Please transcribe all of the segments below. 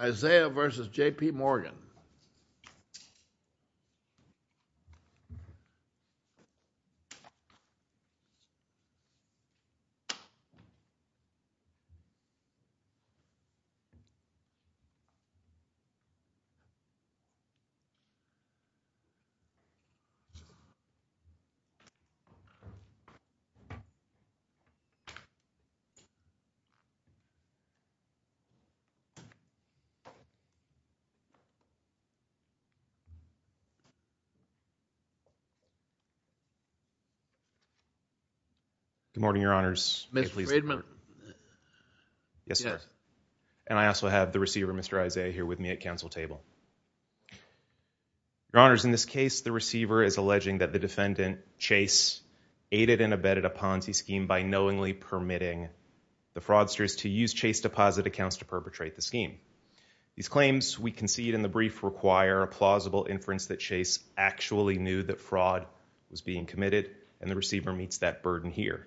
Isaiah v. JPMorgan Good morning, your honors, and I also have the receiver, Mr. Isaiah, here with me at council table. Your honors, in this case, the receiver is alleging that the defendant Chase aided and abetted a Ponzi scheme by knowingly permitting the fraudsters to use Chase deposit accounts to perpetrate the scheme. These claims we concede in the brief require a plausible inference that Chase actually knew that fraud was being committed and the receiver meets that burden here.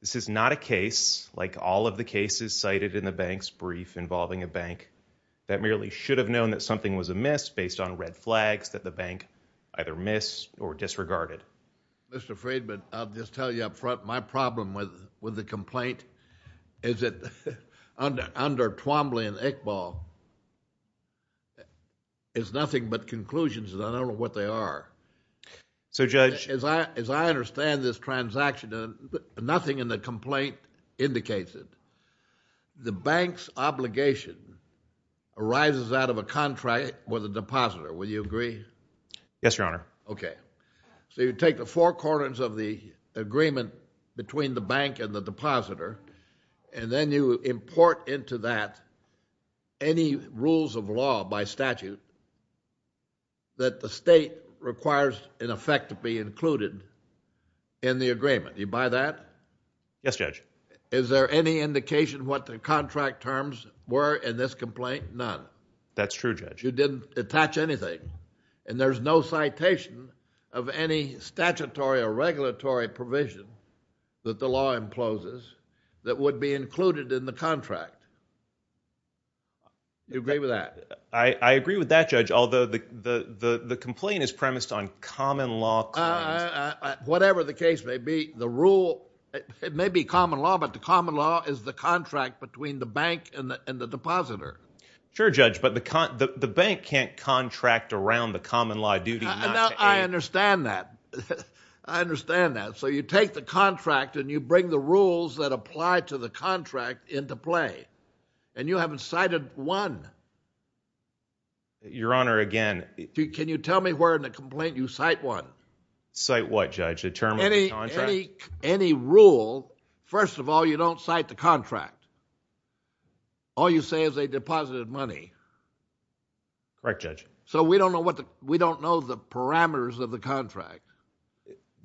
This is not a case, like all of the cases cited in the bank's brief involving a bank, that merely should have known that something was amiss based on red flags that the bank either missed or disregarded. Mr. Friedman, I'll just tell you up front, my problem with the complaint is that under Twombly and Iqbal, it's nothing but conclusions and I don't know what they are. So, Judge As I understand this transaction, nothing in the complaint indicates it. The bank's obligation arises out of a contract with a depositor. Will you agree? Yes, your honor. Okay. So you take the four corners of the agreement between the bank and the depositor and then you import into that any rules of law by statute that the state requires in effect to be included in the agreement. Do you buy that? Yes, Judge. Is there any indication what the contract terms were in this complaint? None. That's true, Judge. You didn't attach anything and there's no citation of any statutory or regulatory provision that the law imposes that would be included in the contract. Do you agree with that? I agree with that, Judge, although the complaint is premised on common law claims. Whatever the case may be, the rule, it may be common law, but the common law is the contract between the bank and the depositor. Sure, Judge, but the bank can't contract around the common law duty. I understand that. I understand that. So you take the contract and you bring the rules that apply to the contract into play and you haven't cited one. Your honor, again. Can you tell me where in the complaint you cite one? Any rule, first of all, you don't cite the contract. All you say is they deposited money. Correct, Judge. So we don't know the parameters of the contract.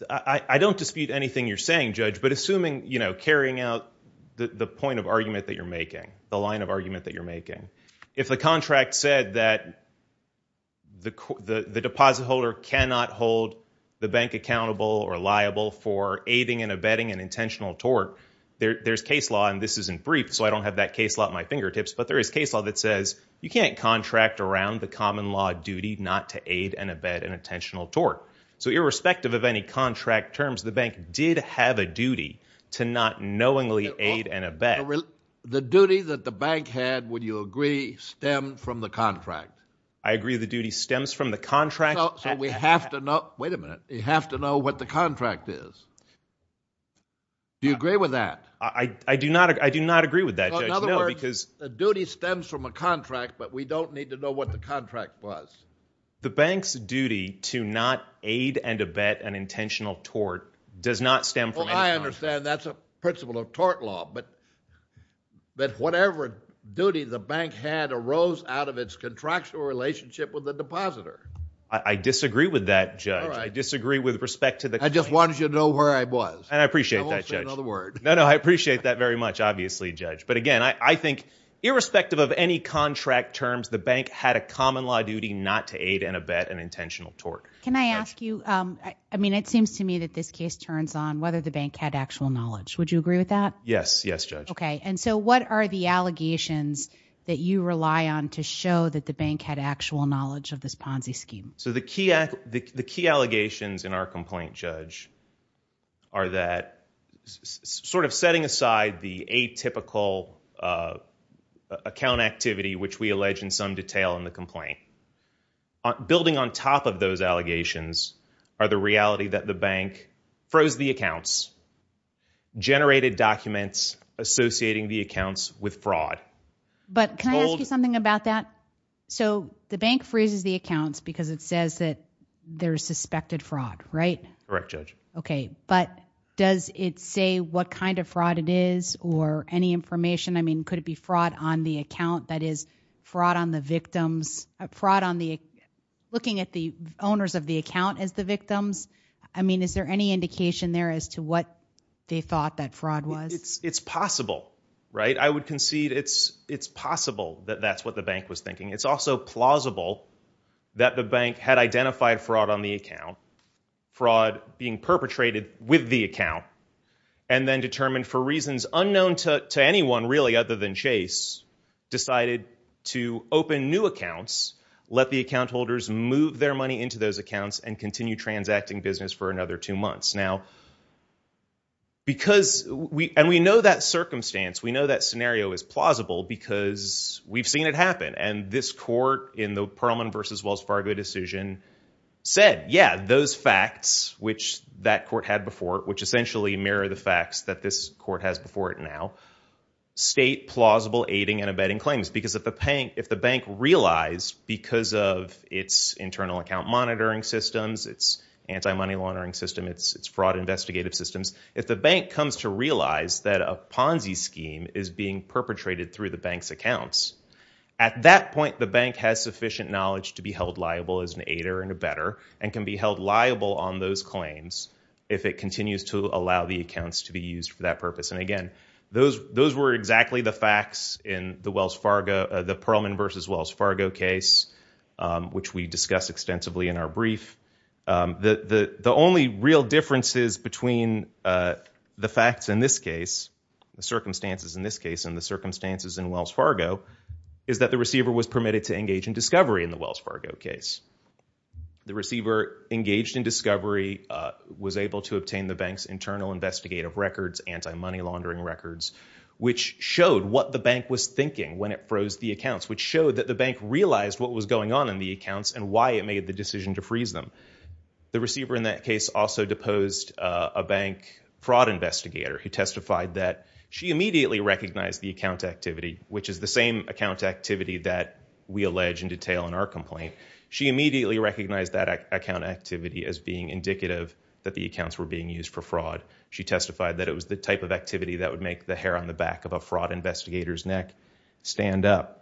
I don't dispute anything you're saying, Judge, but assuming, you know, carrying out the point of argument that you're making, the line of argument that you're making, if the contract said that the deposit holder cannot hold the bank accountable or liable for aiding and abetting an intentional tort, there's case law, and this isn't briefed, so I don't have that case law at my fingertips, but there is case law that says you can't contract around the common law duty not to aid and abet an intentional tort. So irrespective of any contract terms, the bank did have a duty to not knowingly aid and abet. The duty that the bank had, would you agree, stemmed from the contract? I agree the duty stems from the contract. So we have to know, wait a minute, we have to know what the contract is. Do you agree with that? I do not agree with that, Judge, no, because... So in other words, the duty stems from a contract, but we don't need to know what the contract was. The bank's duty to not aid and abet an intentional tort does not stem from any contract. I understand that's a principle of tort law, but whatever duty the bank had arose out of its contractual relationship with the depositor. I disagree with that, Judge. I disagree with respect to the... I just wanted you to know where I was. And I appreciate that, Judge. I won't say another word. No, no, I appreciate that very much, obviously, Judge. But again, I think irrespective of any contract terms, the bank had a common law duty not to aid and abet an intentional tort. Can I ask you, I mean, it seems to me that this case turns on whether the bank had actual knowledge. Would you agree with that? Yes, yes, Judge. Okay, and so what are the allegations that you rely on to show that the bank had actual knowledge of this Ponzi scheme? So the key allegations in our complaint, Judge, are that sort of setting aside the atypical account activity, which we allege in some detail in the complaint, building on top of generated documents associating the accounts with fraud. But can I ask you something about that? So the bank freezes the accounts because it says that there's suspected fraud, right? Correct, Judge. Okay, but does it say what kind of fraud it is or any information? I mean, could it be fraud on the account? That is, fraud on the victims, fraud on the... Looking at the owners of the account as the victims, I mean, is there any indication there as to what they thought that fraud was? It's possible, right? I would concede it's possible that that's what the bank was thinking. It's also plausible that the bank had identified fraud on the account, fraud being perpetrated with the account, and then determined for reasons unknown to anyone really other than Chase decided to open new accounts, let the account holders move their money into those accounts and continue transacting business for another two months. Now, because we... And we know that circumstance, we know that scenario is plausible because we've seen it happen. And this court in the Perlman v. Wells Fargo decision said, yeah, those facts which that court had before, which essentially mirror the facts that this court has before it now, state plausible aiding and abetting claims. Because if the bank realized because of its internal account monitoring systems, its anti-money laundering system, its fraud investigative systems, if the bank comes to realize that a Ponzi scheme is being perpetrated through the bank's accounts, at that point, the bank has sufficient knowledge to be held liable as an aider and abetter and can be held liable on those claims if it continues to allow the accounts to be used for that purpose. And again, those were exactly the facts in the Wells Fargo, the Perlman v. Wells Fargo case, which we discussed extensively in our brief. The only real differences between the facts in this case, the circumstances in this case and the circumstances in Wells Fargo, is that the receiver was permitted to engage in discovery in the Wells Fargo case. The receiver engaged in discovery, was able to obtain the bank's internal investigative records, anti-money laundering records, which showed what the bank was thinking when it froze the accounts, which showed that the bank realized what was going on in the accounts and why it made the decision to freeze them. The receiver in that case also deposed a bank fraud investigator who testified that she immediately recognized the account activity, which is the same account activity that we allege in detail in our complaint. She immediately recognized that account activity as being indicative that the accounts were being used for fraud. She testified that it was the type of activity that would make the hair on the back of a fraud investigator's neck stand up.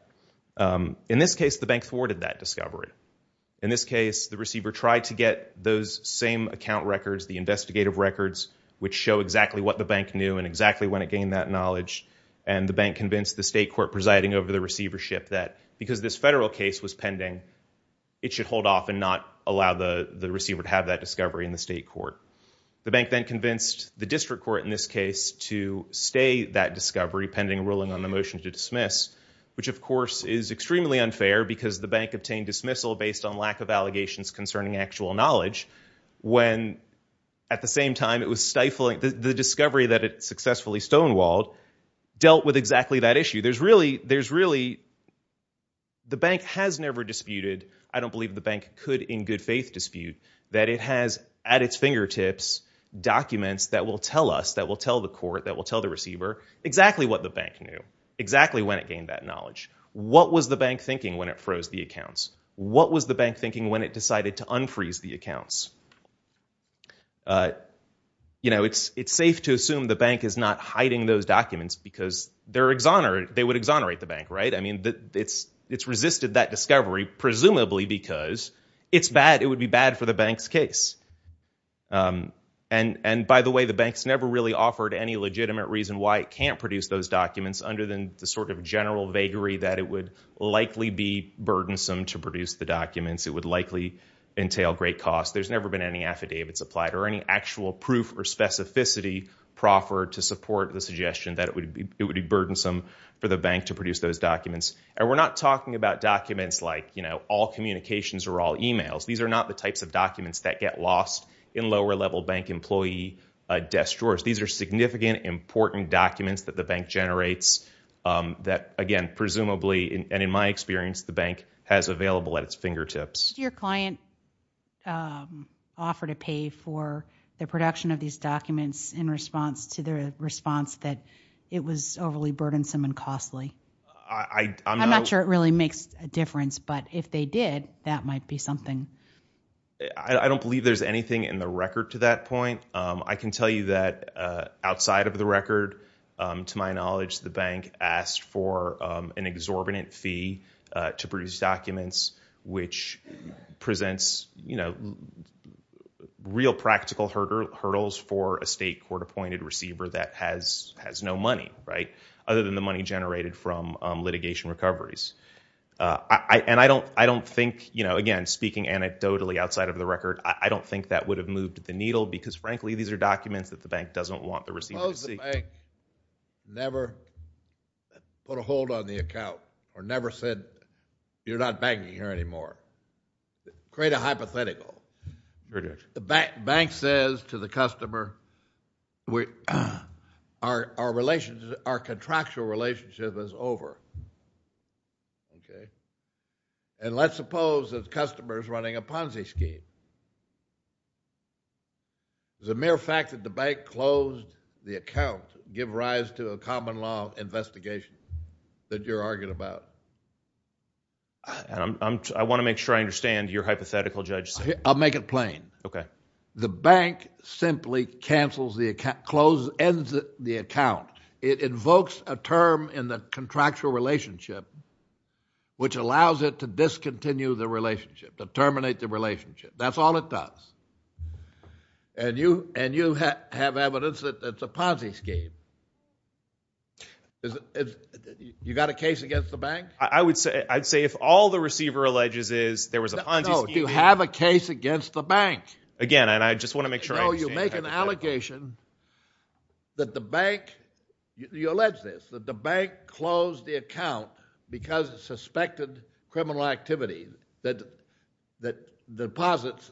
In this case, the bank thwarted that discovery. In this case, the receiver tried to get those same account records, the investigative records, which show exactly what the bank knew and exactly when it gained that knowledge, and the bank convinced the state court presiding over the receivership that because this federal case was pending, it should hold off and not allow the receiver to have that discovery in the state court. The bank then convinced the district court in this case to stay that discovery pending ruling on the motion to dismiss, which of course is extremely unfair because the bank obtained dismissal based on lack of allegations concerning actual knowledge when at the same time it was stifling the discovery that it successfully stonewalled dealt with exactly that issue. The bank has never disputed, I don't believe the bank could in good faith dispute, that it has at its fingertips documents that will tell us, that will tell the court, that will tell the bank exactly when it gained that knowledge. What was the bank thinking when it froze the accounts? What was the bank thinking when it decided to unfreeze the accounts? It's safe to assume the bank is not hiding those documents because they would exonerate the bank, right? It's resisted that discovery presumably because it would be bad for the bank's case. By the way, the bank's never really offered any legitimate reason why it can't produce those documents under the sort of general vagary that it would likely be burdensome to produce the documents, it would likely entail great costs. There's never been any affidavits applied or any actual proof or specificity proffered to support the suggestion that it would be burdensome for the bank to produce those documents. We're not talking about documents like all communications or all emails. These are not the types of documents that get lost in lower level bank employee desk drawers. These are significant, important documents that the bank generates that, again, presumably and in my experience, the bank has available at its fingertips. Did your client offer to pay for the production of these documents in response to the response that it was overly burdensome and costly? I'm not sure it really makes a difference, but if they did, that might be something. I don't believe there's anything in the record to that point. I can tell you that outside of the record, to my knowledge, the bank asked for an exorbitant fee to produce documents which presents real practical hurdles for a state court appointed receiver that has no money, other than the money generated from litigation recoveries. I don't think, again, speaking anecdotally outside of the record, I don't think that would have moved the needle because, frankly, these are documents that the bank doesn't want the receiver to see. Suppose the bank never put a hold on the account or never said, you're not banking here anymore. Create a hypothetical. Very good. The bank says to the customer, our contractual relationship is over. Let's suppose that the customer is running a Ponzi scheme. The mere fact that the bank closed the account gives rise to a common law of investigation that you're arguing about. I want to make sure I understand your hypothetical, Judge. I'll make it plain. The bank simply cancels the account, ends the account. It invokes a term in the contractual relationship which allows it to discontinue the relationship, to terminate the relationship. That's all it does. And you have evidence that it's a Ponzi scheme. You got a case against the bank? I would say, if all the receiver alleges is there was a Ponzi scheme. No, do you have a case against the bank? Again, and I just want to make sure I understand your hypothetical. There's an allegation that the bank, you allege this, that the bank closed the account because of suspected criminal activity, that deposits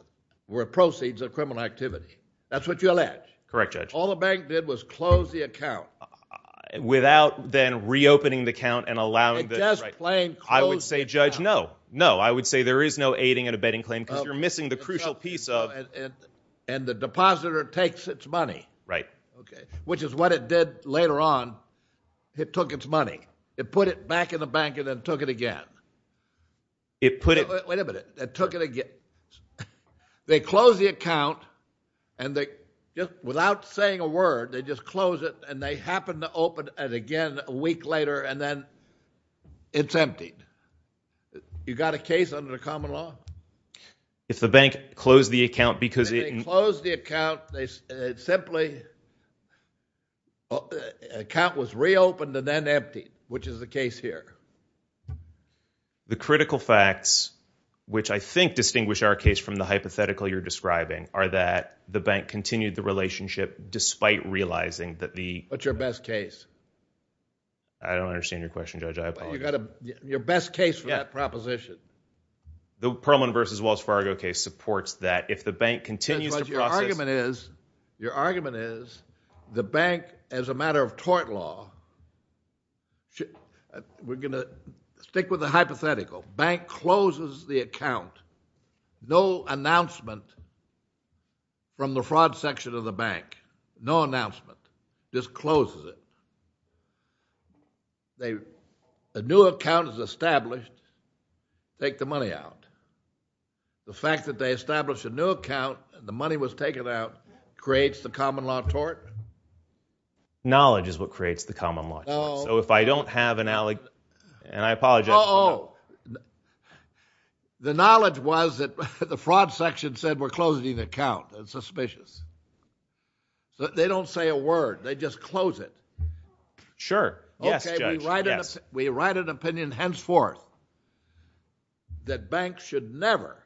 were proceeds of criminal activity. That's what you allege? Correct, Judge. All the bank did was close the account. Without then reopening the account and allowing the... It just plain closed the account. I would say, Judge, no. No. I would say there is no aiding and abetting claim because you're missing the crucial piece of... And the depositor takes its money, which is what it did later on. It took its money. It put it back in the bank and then took it again. It put it... Wait a minute. It took it again. They close the account and they, without saying a word, they just close it and they happen to open it again a week later and then it's emptied. You got a case under the common law? If the bank closed the account because it... If they closed the account, they simply... Account was reopened and then emptied, which is the case here. The critical facts, which I think distinguish our case from the hypothetical you're describing, are that the bank continued the relationship despite realizing that the... What's your best case? I don't understand your question, Judge. I apologize. You got a... Your best case for that proposition? The Perlman versus Wells Fargo case supports that. If the bank continues to process... That's what your argument is. Your argument is the bank, as a matter of tort law, we're going to stick with the hypothetical. Bank closes the account. No announcement from the fraud section of the bank, no announcement, just closes it. A new account is established, take the money out. The fact that they established a new account and the money was taken out creates the common law tort? Knowledge is what creates the common law tort. If I don't have an... I apologize. The knowledge was that the fraud section said, we're closing the account, it's suspicious. They don't say a word, they just close it. Sure. Yes, Judge. Okay, we write an opinion henceforth that banks should never,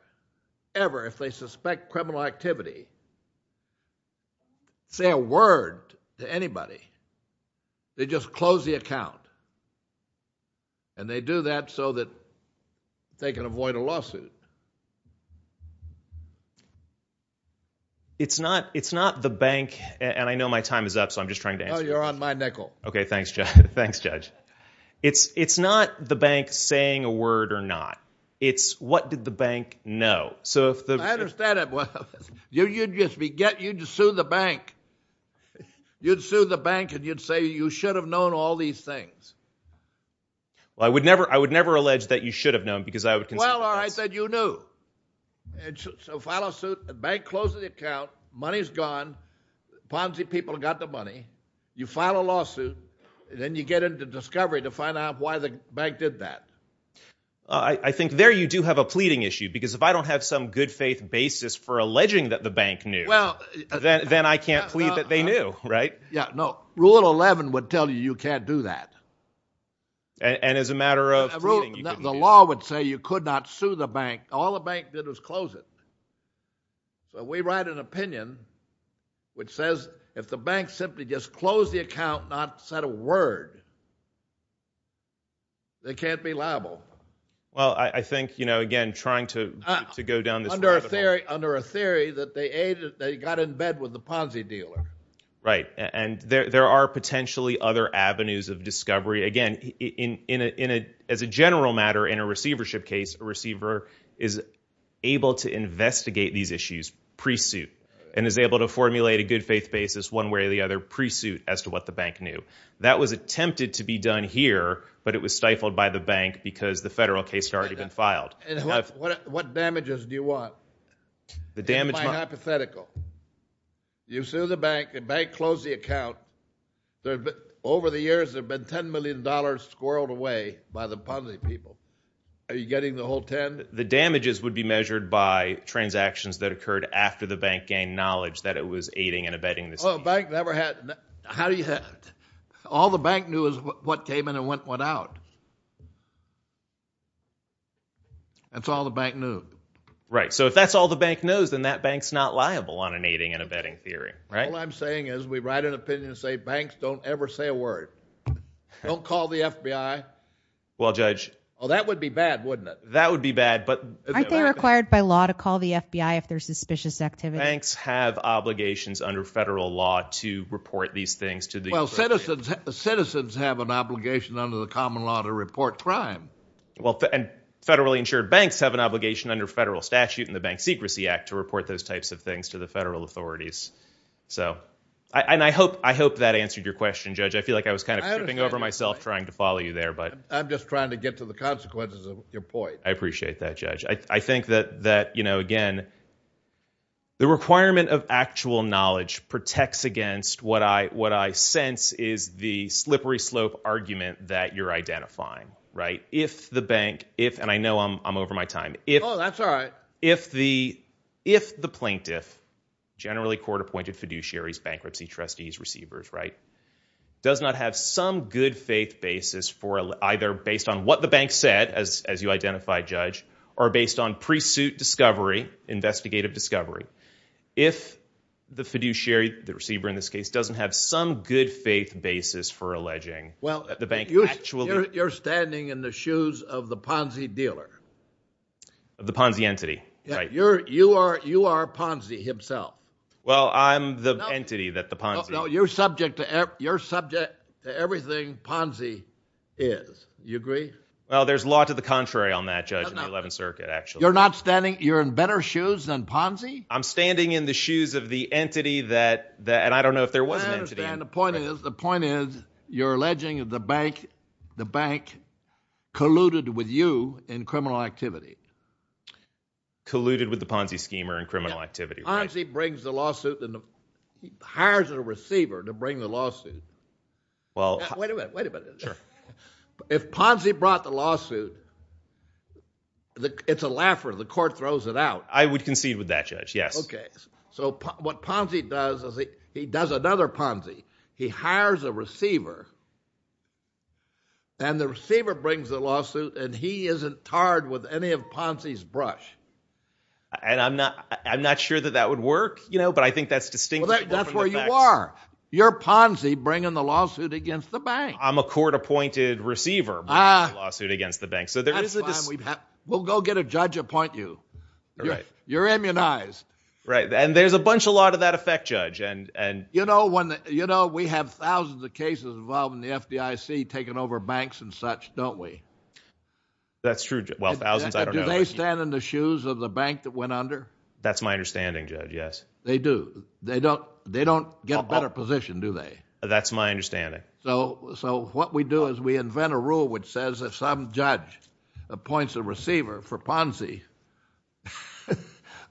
ever, if they suspect criminal activity, say a word to anybody. They just close the account. They do that so that they can avoid a lawsuit. It's not the bank, and I know my time is up, so I'm just trying to answer this. Oh, you're on my nickel. Okay, thanks, Judge. Thanks, Judge. It's not the bank saying a word or not. It's what did the bank know? So if the... I understand it. Well, you'd just be... You'd sue the bank. You'd sue the bank and you'd say, you should have known all these things. I would never allege that you should have known, because I would consider... Well, all right, then you knew. So file a suit, the bank closes the account, money's gone, Ponzi people got the money. You file a lawsuit, then you get into discovery to find out why the bank did that. I think there you do have a pleading issue, because if I don't have some good faith basis for alleging that the bank knew, then I can't plead that they knew, right? Yeah, no. Rule 11 would tell you you can't do that. And as a matter of pleading, you can do that. The law would say you could not sue the bank. All the bank did was close it. But we write an opinion which says if the bank simply just closed the account, not said a word, they can't be liable. Well, I think, again, trying to go down this... Under a theory that they got in bed with the Ponzi dealer. Right. And there are potentially other avenues of discovery. Again, as a general matter in a receivership case, a receiver is able to investigate these issues pre-suit and is able to formulate a good faith basis one way or the other pre-suit as to what the bank knew. That was attempted to be done here, but it was stifled by the bank because the federal case had already been filed. What damages do you want? The damage... Hypothetical. You sue the bank, the bank closed the account. Over the years, there have been $10 million squirreled away by the Ponzi people. Are you getting the whole 10? The damages would be measured by transactions that occurred after the bank gained knowledge that it was aiding and abetting this deal. Oh, the bank never had... How do you... All the bank knew is what came in and what went out. That's all the bank knew. Right. So if that's all the bank knows, then that bank's not liable on an aiding and abetting theory. Right? All I'm saying is, we write an opinion and say, banks don't ever say a word. Don't call the FBI. Well, Judge... Oh, that would be bad, wouldn't it? That would be bad, but... Aren't they required by law to call the FBI if there's suspicious activity? Banks have obligations under federal law to report these things to the... Well, citizens have an obligation under the common law to report crime. Federally insured banks have an obligation under federal statute in the Bank Secrecy Act to report those types of things to the federal authorities. So, and I hope that answered your question, Judge. I feel like I was kind of tripping over myself trying to follow you there, but... I'm just trying to get to the consequences of your point. I appreciate that, Judge. I think that, again, the requirement of actual knowledge protects against what I sense is the slippery slope argument that you're identifying. Right? If the bank, if... And I know I'm over my time. Oh, that's all right. If the plaintiff, generally court-appointed fiduciaries, bankruptcy trustees, receivers, right, does not have some good faith basis for... Either based on what the bank said, as you identified, Judge, or based on pre-suit discovery, investigative discovery. If the fiduciary, the receiver in this case, doesn't have some good faith basis for alleging that the bank actually... Well, you're standing in the shoes of the Ponzi dealer. Of the Ponzi entity. Right. You are Ponzi himself. Well, I'm the entity that the Ponzi... No, you're subject to everything Ponzi is. You agree? Well, there's law to the contrary on that, Judge, in the 11th Circuit, actually. You're not standing... You're in better shoes than Ponzi? I'm standing in the shoes of the entity that... And I don't know if there was an entity. I understand. And the point is, the point is, you're alleging that the bank colluded with you in criminal activity. Colluded with the Ponzi schemer in criminal activity. Ponzi brings the lawsuit and hires a receiver to bring the lawsuit. Wait a minute, wait a minute. Sure. If Ponzi brought the lawsuit, it's a laugher. The court throws it out. I would concede with that, Judge, yes. Okay. What Ponzi does is he does another Ponzi. He hires a receiver, and the receiver brings the lawsuit, and he isn't tarred with any of Ponzi's brush. I'm not sure that that would work, but I think that's distinctly open to facts. That's where you are. You're Ponzi bringing the lawsuit against the bank. I'm a court-appointed receiver bringing the lawsuit against the bank. That's fine. We'll go get a judge to appoint you. You're immunized. Right. And there's a bunch of law to that effect, Judge. You know, we have thousands of cases involving the FDIC taking over banks and such, don't we? That's true. Well, thousands, I don't know. Do they stand in the shoes of the bank that went under? That's my understanding, Judge, yes. They do. They don't get a better position, do they? That's my understanding. So what we do is we invent a rule which says if some judge appoints a receiver for Ponzi,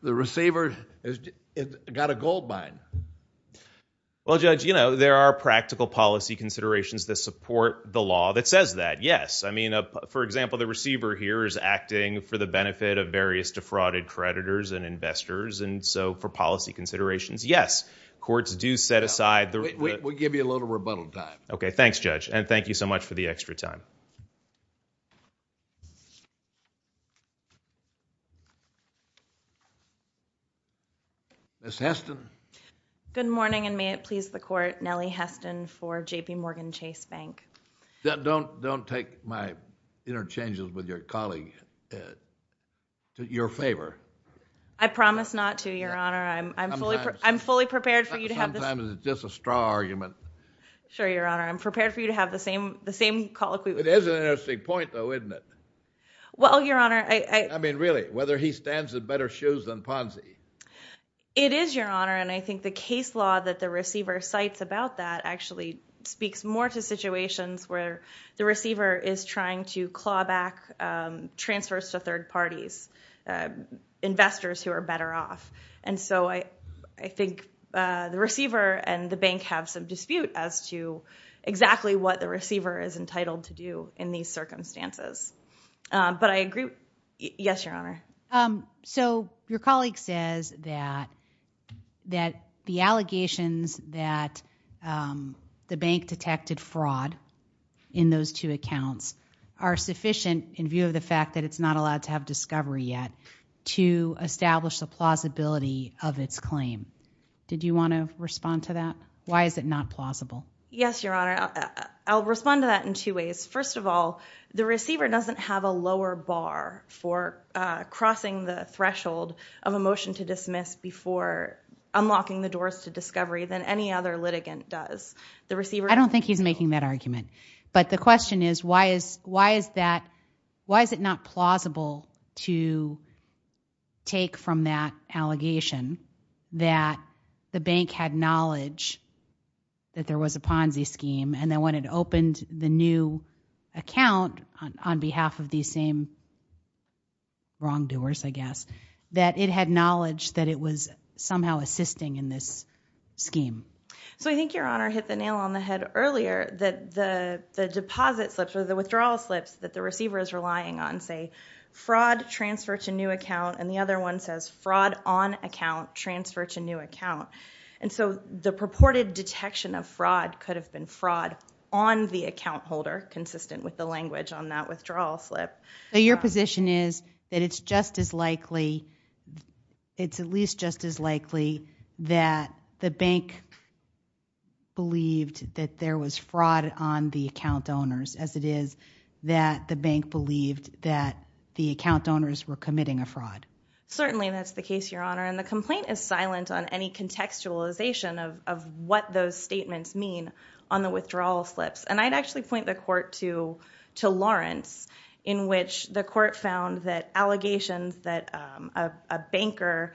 the receiver has got a gold mine. Well, Judge, you know, there are practical policy considerations that support the law that says that, yes. I mean, for example, the receiver here is acting for the benefit of various defrauded creditors and investors, and so for policy considerations, yes, courts do set aside the We'll give you a little rebuttal time. OK, thanks, Judge. And thank you so much for the extra time. Ms. Heston? Good morning, and may it please the Court, Nellie Heston for JPMorgan Chase Bank. Don't take my interchanges with your colleague to your favor. I promise not to, Your Honor. I'm fully prepared for you to have this. Sometimes it's just a straw argument. Sure, Your Honor. I'm prepared for you to have the same colloquy. It is an interesting point, though, isn't it? Well, Your Honor, I mean, really, whether he stands in better shoes than Ponzi. It is, Your Honor, and I think the case law that the receiver cites about that actually speaks more to situations where the receiver is trying to claw back transfers to third parties, investors who are better off. And so I think the receiver and the bank have some dispute as to exactly what the receiver is entitled to do in these circumstances. But I agree. Yes, Your Honor. So your colleague says that the allegations that the bank detected fraud in those two accounts are sufficient in view of the fact that it's not allowed to have discovery yet to establish the plausibility of its claim. Did you want to respond to that? Why is it not plausible? Yes, Your Honor. I'll respond to that in two ways. First of all, the receiver doesn't have a lower bar for crossing the threshold of a motion to dismiss before unlocking the doors to discovery than any other litigant does. I don't think he's making that argument. But the question is, why is it not plausible to take from that allegation that the bank had knowledge that there was a Ponzi scheme, and then when it opened the new account on behalf of these same wrongdoers, I guess, that it had knowledge that it was somehow assisting in this scheme? So I think Your Honor hit the nail on the head earlier that the deposit slips or the withdrawal slips that the receiver is relying on say, fraud, transfer to new account, and the other one says fraud on account, transfer to new account. And so the purported detection of fraud could have been fraud on the account holder, consistent with the language on that withdrawal slip. So your position is that it's just as likely, it's at least just as likely that the bank believed that there was fraud on the account owners as it is that the bank believed that the account owners were committing a fraud? Certainly, that's the case, Your Honor. And the complaint is silent on any contextualization of what those statements mean on the withdrawal slips. And I'd actually point the court to Lawrence, in which the court found that allegations that a banker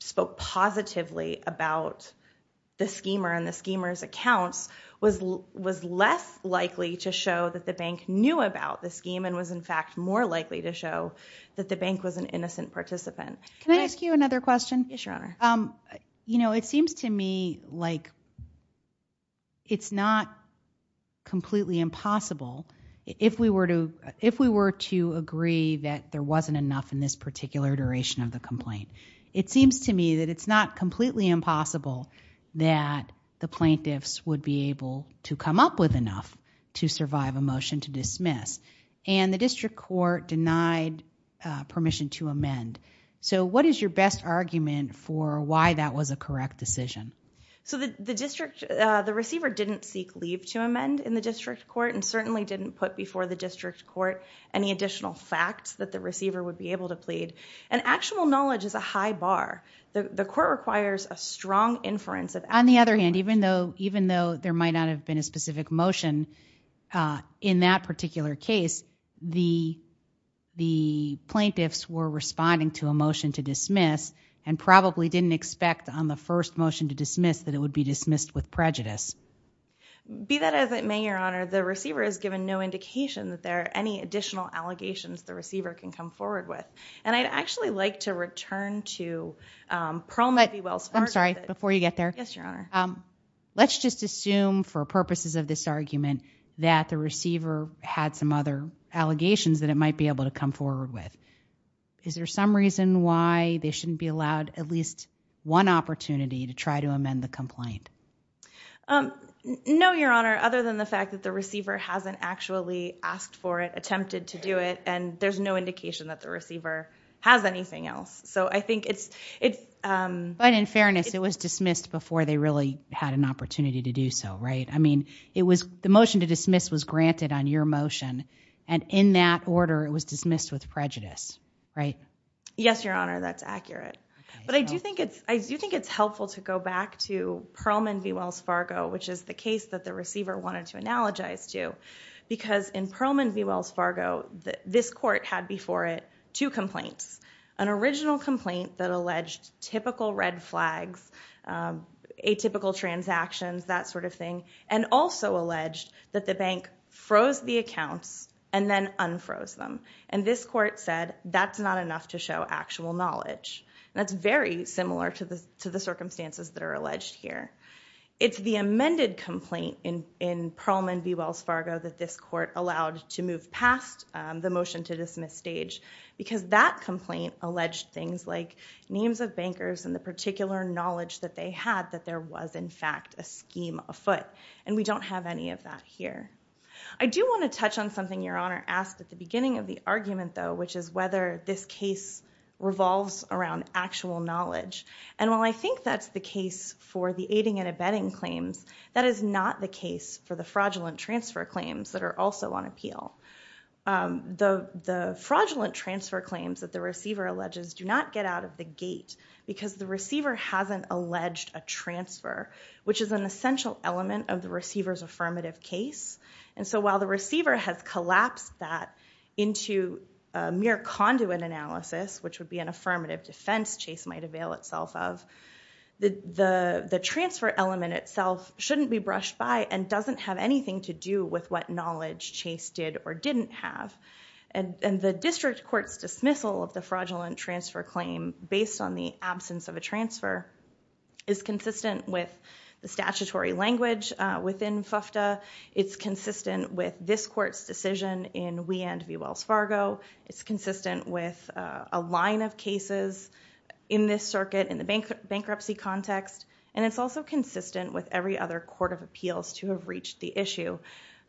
spoke positively about the schemer and the schemer's accounts was less likely to show that the bank knew about the scheme and was in fact more likely to show that the bank was an innocent participant. Can I ask you another question? Yes, Your Honor. You know, it seems to me like it's not completely impossible if we were to agree that there wasn't enough in this particular iteration of the complaint. It seems to me that it's not completely impossible that the plaintiffs would be able to come up with enough to survive a motion to dismiss. And the district court denied permission to amend. So what is your best argument for why that was a correct decision? So the district, the receiver didn't seek leave to amend in the district court and certainly didn't put before the district court any additional facts that the receiver would be able to plead. And actual knowledge is a high bar. The court requires a strong inference of actual knowledge. On the other hand, even though there might not have been a specific motion in that particular case, the plaintiffs were responding to a motion to dismiss and probably didn't expect on the first motion to dismiss that it would be dismissed with prejudice. Be that as it may, Your Honor, the receiver has given no indication that there are any additional allegations the receiver can come forward with. And I'd actually like to return to Pearl Mabee Wells Fargo. I'm sorry. Before you get there. Yes, Your Honor. Let's just assume for purposes of this argument that the receiver had some other allegations that it might be able to come forward with. Is there some reason why they shouldn't be allowed at least one opportunity to try to amend the complaint? No, Your Honor. Other than the fact that the receiver hasn't actually asked for it, attempted to do it, and there's no indication that the receiver has anything else. But in fairness, it was dismissed before they really had an opportunity to do so, right? I mean, the motion to dismiss was granted on your motion. And in that order, it was dismissed with prejudice, right? Yes, Your Honor. That's accurate. But I do think it's helpful to go back to Pearl Mabee Wells Fargo, which is the case that the receiver wanted to analogize to. Because in Pearl Mabee Wells Fargo, this court had before it two complaints. An original complaint that alleged typical red flags, atypical transactions, that sort of thing, and also alleged that the bank froze the accounts and then unfroze them. And this court said that's not enough to show actual knowledge. And that's very similar to the circumstances that are alleged here. It's the amended complaint in Pearl Mabee Wells Fargo that this court allowed to move past the motion to dismiss stage. Because that complaint alleged things like names of bankers and the particular knowledge that they had that there was, in fact, a scheme afoot. And we don't have any of that here. I do want to touch on something Your Honor asked at the beginning of the argument, though, which is whether this case revolves around actual knowledge. And while I think that's the case for the aiding and abetting claims, that is not the case for the fraudulent transfer claims that are also on appeal. The fraudulent transfer claims that the receiver alleges do not get out of the gate because the receiver hasn't alleged a transfer, which is an essential element of the receiver's affirmative case. And so while the receiver has collapsed that into mere conduit analysis, which would be an affirmative defense Chase might avail itself of, the transfer element itself shouldn't be brushed by and doesn't have anything to do with what knowledge Chase did or didn't have. And the district court's dismissal of the fraudulent transfer claim, based on the absence of a transfer, is consistent with the statutory language within FFTA. It's consistent with this court's decision in We and V. Wells Fargo. It's consistent with a line of cases in this circuit in the bankruptcy context. And it's also consistent with every other court of appeals to have reached the issue,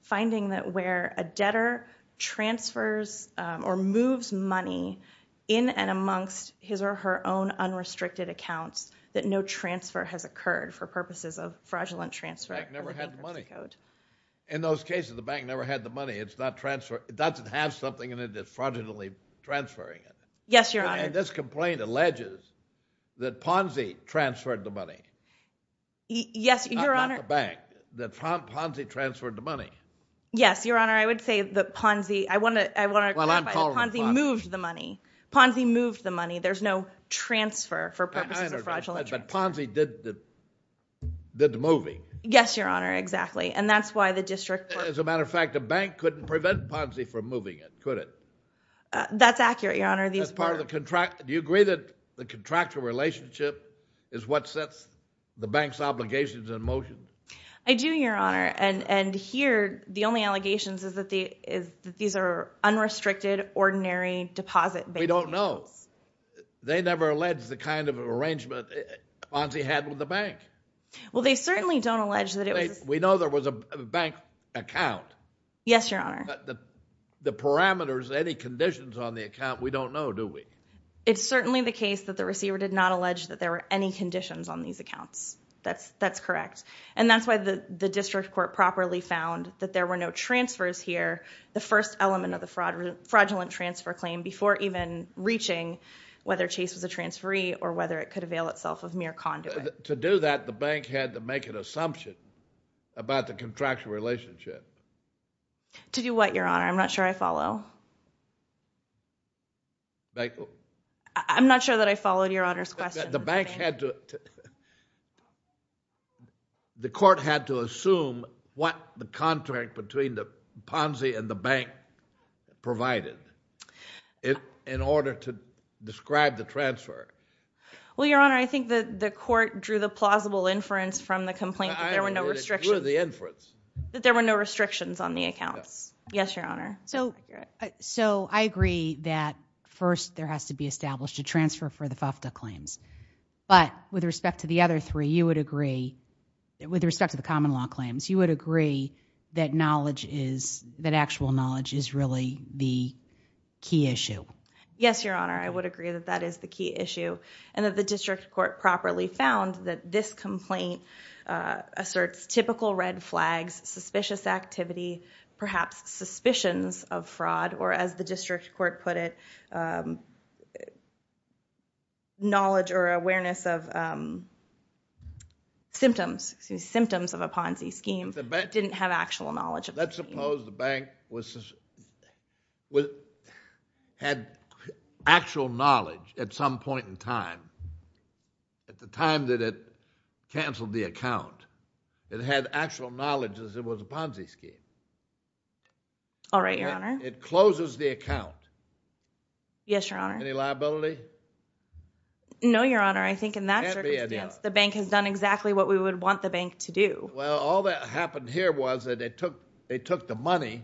finding that where a debtor transfers or moves money in and amongst his or her own unrestricted accounts that no transfer has occurred for purposes of fraudulent transfer. The bank never had the money. In those cases, the bank never had the money. It's not transferred. It doesn't have something in it that's fraudulently transferring it. Yes, Your Honor. And this complaint alleges that Ponzi transferred the money. Yes, Your Honor. Not the bank. That Ponzi transferred the money. Yes, Your Honor. I would say that Ponzi moved the money. Ponzi moved the money. There's no transfer for purposes of fraudulent transfer. But Ponzi did the moving. Yes, Your Honor. Exactly. And that's why the district court As a matter of fact, the bank couldn't prevent Ponzi from moving it, could it? That's accurate, Your Honor. Do you agree that the contractual relationship is what sets the bank's obligations in motion? I do, Your Honor. And here, the only allegations is that these are unrestricted, ordinary deposit bank cases. We don't know. They never allege the kind of arrangement Ponzi had with the bank. Well, they certainly don't allege that it was We know there was a bank account. Yes, Your Honor. The parameters, any conditions on the account, we don't know, do we? It's certainly the case that the receiver did not allege that there were any conditions on these accounts. That's correct. And that's why the district court properly found that there were no transfers here, the first element of the fraudulent transfer claim, before even reaching whether Chase was a transferee or whether it could avail itself of mere conduit. To do that, the bank had to make an assumption about the contractual relationship. To do what, Your Honor? I'm not sure I follow. I'm not sure that I followed Your Honor's question. The court had to assume what the contract between the Ponzi and the bank provided in order to describe the transfer. Well, Your Honor, I think that the court drew the plausible inference from the complaint that there were no restrictions. I agree with the inference. That there were no restrictions on the accounts. Yes, Your Honor. So I agree that first there has to be established a transfer for the FAFTA claims, but with respect to the other three, you would agree, with respect to the common law claims, you would agree that knowledge is, that actual knowledge is really the key issue. Yes, Your Honor, I would agree that that is the key issue and that the district court properly found that this complaint asserts typical red flags, suspicious activity, perhaps suspicions of fraud or as the district court put it, knowledge or awareness of symptoms, symptoms of a Ponzi scheme, didn't have actual knowledge. Let's suppose the bank had actual knowledge at some point in time. At the time that it canceled the account, it had actual knowledge as it was a Ponzi scheme. All right, Your Honor. It closes the account. Yes, Your Honor. Any liability? No, Your Honor, I think in that circumstance, the bank has done exactly what we would want the bank to do. Well, all that happened here was that they took the money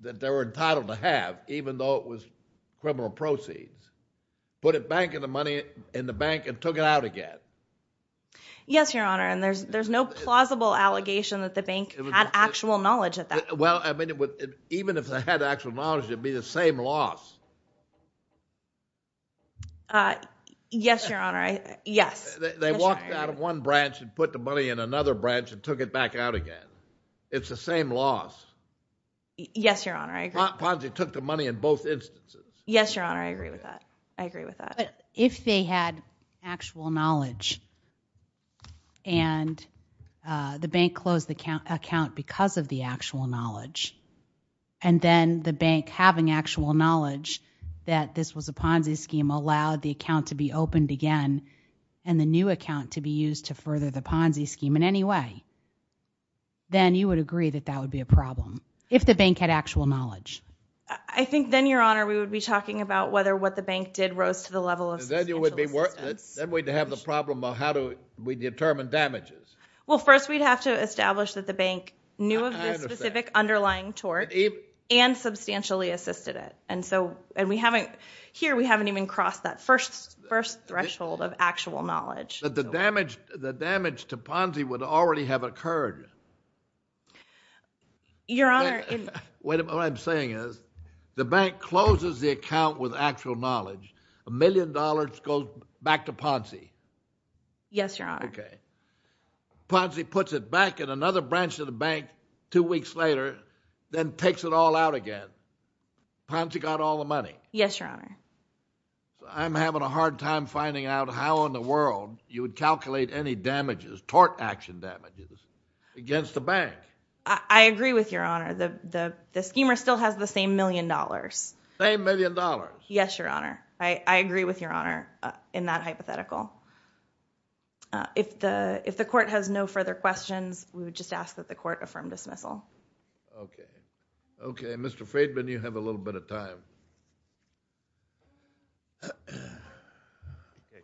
that they were entitled to have, even though it was criminal proceeds, put it back in the bank and took it out again. Yes, Your Honor, and there's no plausible allegation that the bank had actual knowledge at that point. Well, even if they had actual knowledge, it would be the same loss. Yes, Your Honor, yes. They walked out of one branch and put the money in another branch and took it back out again. It's the same loss. Yes, Your Honor, I agree. Ponzi took the money in both instances. Yes, Your Honor, I agree with that. I agree with that. But if they had actual knowledge and the bank closed the account because of the actual knowledge and then the bank having actual knowledge that this was a Ponzi scheme allowed the account to be opened again and the new account to be used to further the Ponzi scheme in any way, then you would agree that that would be a problem if the bank had actual knowledge. I think then, Your Honor, we would be talking about whether what the bank did rose to the level of substantial assistance. Then we'd have the problem of how do we determine damages. Well, first we'd have to establish that the bank knew of the specific underlying tort and substantially assisted it. And here we haven't even crossed that first threshold of actual knowledge. But the damage to Ponzi would already have occurred. Your Honor. What I'm saying is the bank closes the account with actual knowledge. A million dollars goes back to Ponzi. Yes, Your Honor. Okay. Ponzi puts it back in another branch of the bank two weeks later then takes it all out again. Ponzi got all the money. Yes, Your Honor. I'm having a hard time finding out how in the world you would calculate any damages, tort action damages, against the bank. I agree with Your Honor. The schemer still has the same million dollars. Same million dollars? Yes, Your Honor. I agree with Your Honor in that hypothetical. If the court has no further questions, we would just ask that the court affirm dismissal. Okay. Okay. Mr. Friedman, you have a little bit of time.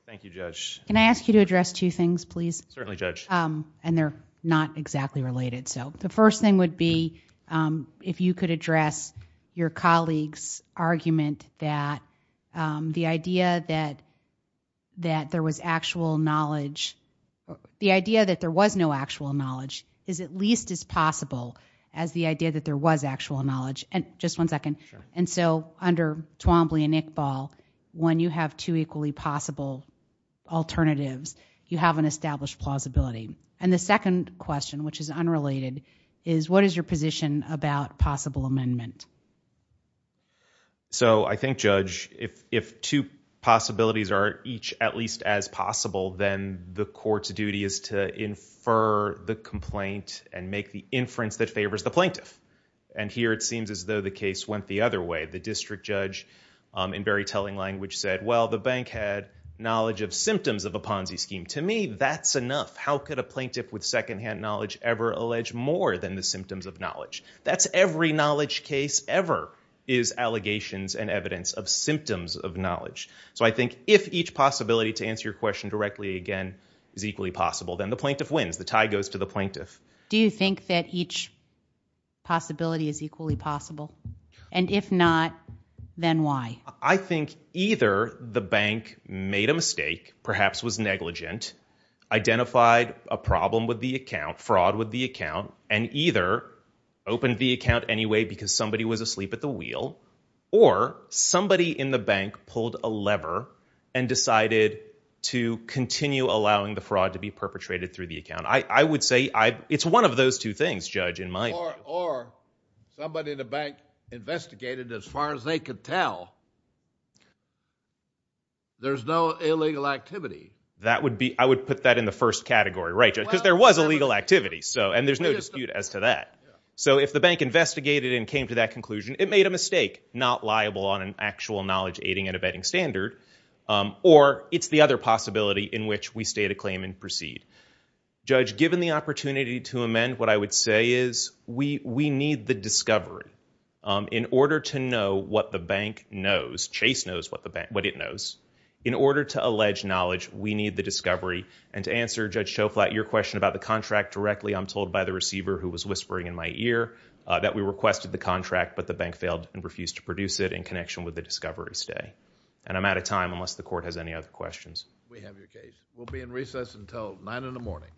Thank you, Judge. Can I ask you to address two things, please? Certainly, Judge. They're not exactly related. The first thing would be if you could address your colleague's argument that the idea that there was no actual knowledge is at least as possible as the idea that there was actual knowledge. Just one second. Sure. Under Twombly and Iqbal, when you have two equally possible alternatives, you have an established plausibility. The second question, which is unrelated, is what is your position about possible amendment? I think, Judge, if two possibilities are each at least as possible, then the court's duty is to infer the complaint and make the inference that favors the plaintiff. Here, it seems as though the case went the other way. The district judge, in very telling language, said, well, the bank had knowledge of symptoms of a Ponzi scheme. To me, that's enough. How could a plaintiff with secondhand knowledge ever allege more than the symptoms of knowledge? That's every knowledge case ever is allegations and evidence of symptoms of knowledge. So I think if each possibility, to answer your question directly again, is equally possible, then the plaintiff wins. The tie goes to the plaintiff. Do you think that each possibility is equally possible? And if not, then why? I think either the bank made a mistake, perhaps was negligent, identified a problem with the account, fraud with the account, and either opened the account anyway because somebody was asleep at the wheel, or somebody in the bank pulled a lever and decided to continue allowing the fraud to be perpetrated through the account. I would say it's one of those two things, Judge, in my view. Or somebody in the bank investigated, as far as they could tell, there's no illegal activity. I would put that in the first category, right, because there was illegal activity, and there's no dispute as to that. So if the bank investigated and came to that conclusion, it made a mistake, not liable on an actual knowledge-aiding and abetting standard. Or it's the other possibility in which we stay to claim and proceed. Judge, given the opportunity to amend, what I would say is, we need the discovery in order to know what the bank knows. Chase knows what it knows. In order to allege knowledge, we need the discovery. And to answer, Judge Schoflat, your question about the contract directly, I'm told by the receiver, who was whispering in my ear, that we requested the contract, but the bank failed and refused to produce it in connection with the discovery stay. And I'm out of time unless the Court has any other questions. We have your case. We'll be in recess until 9 in the morning. All rise.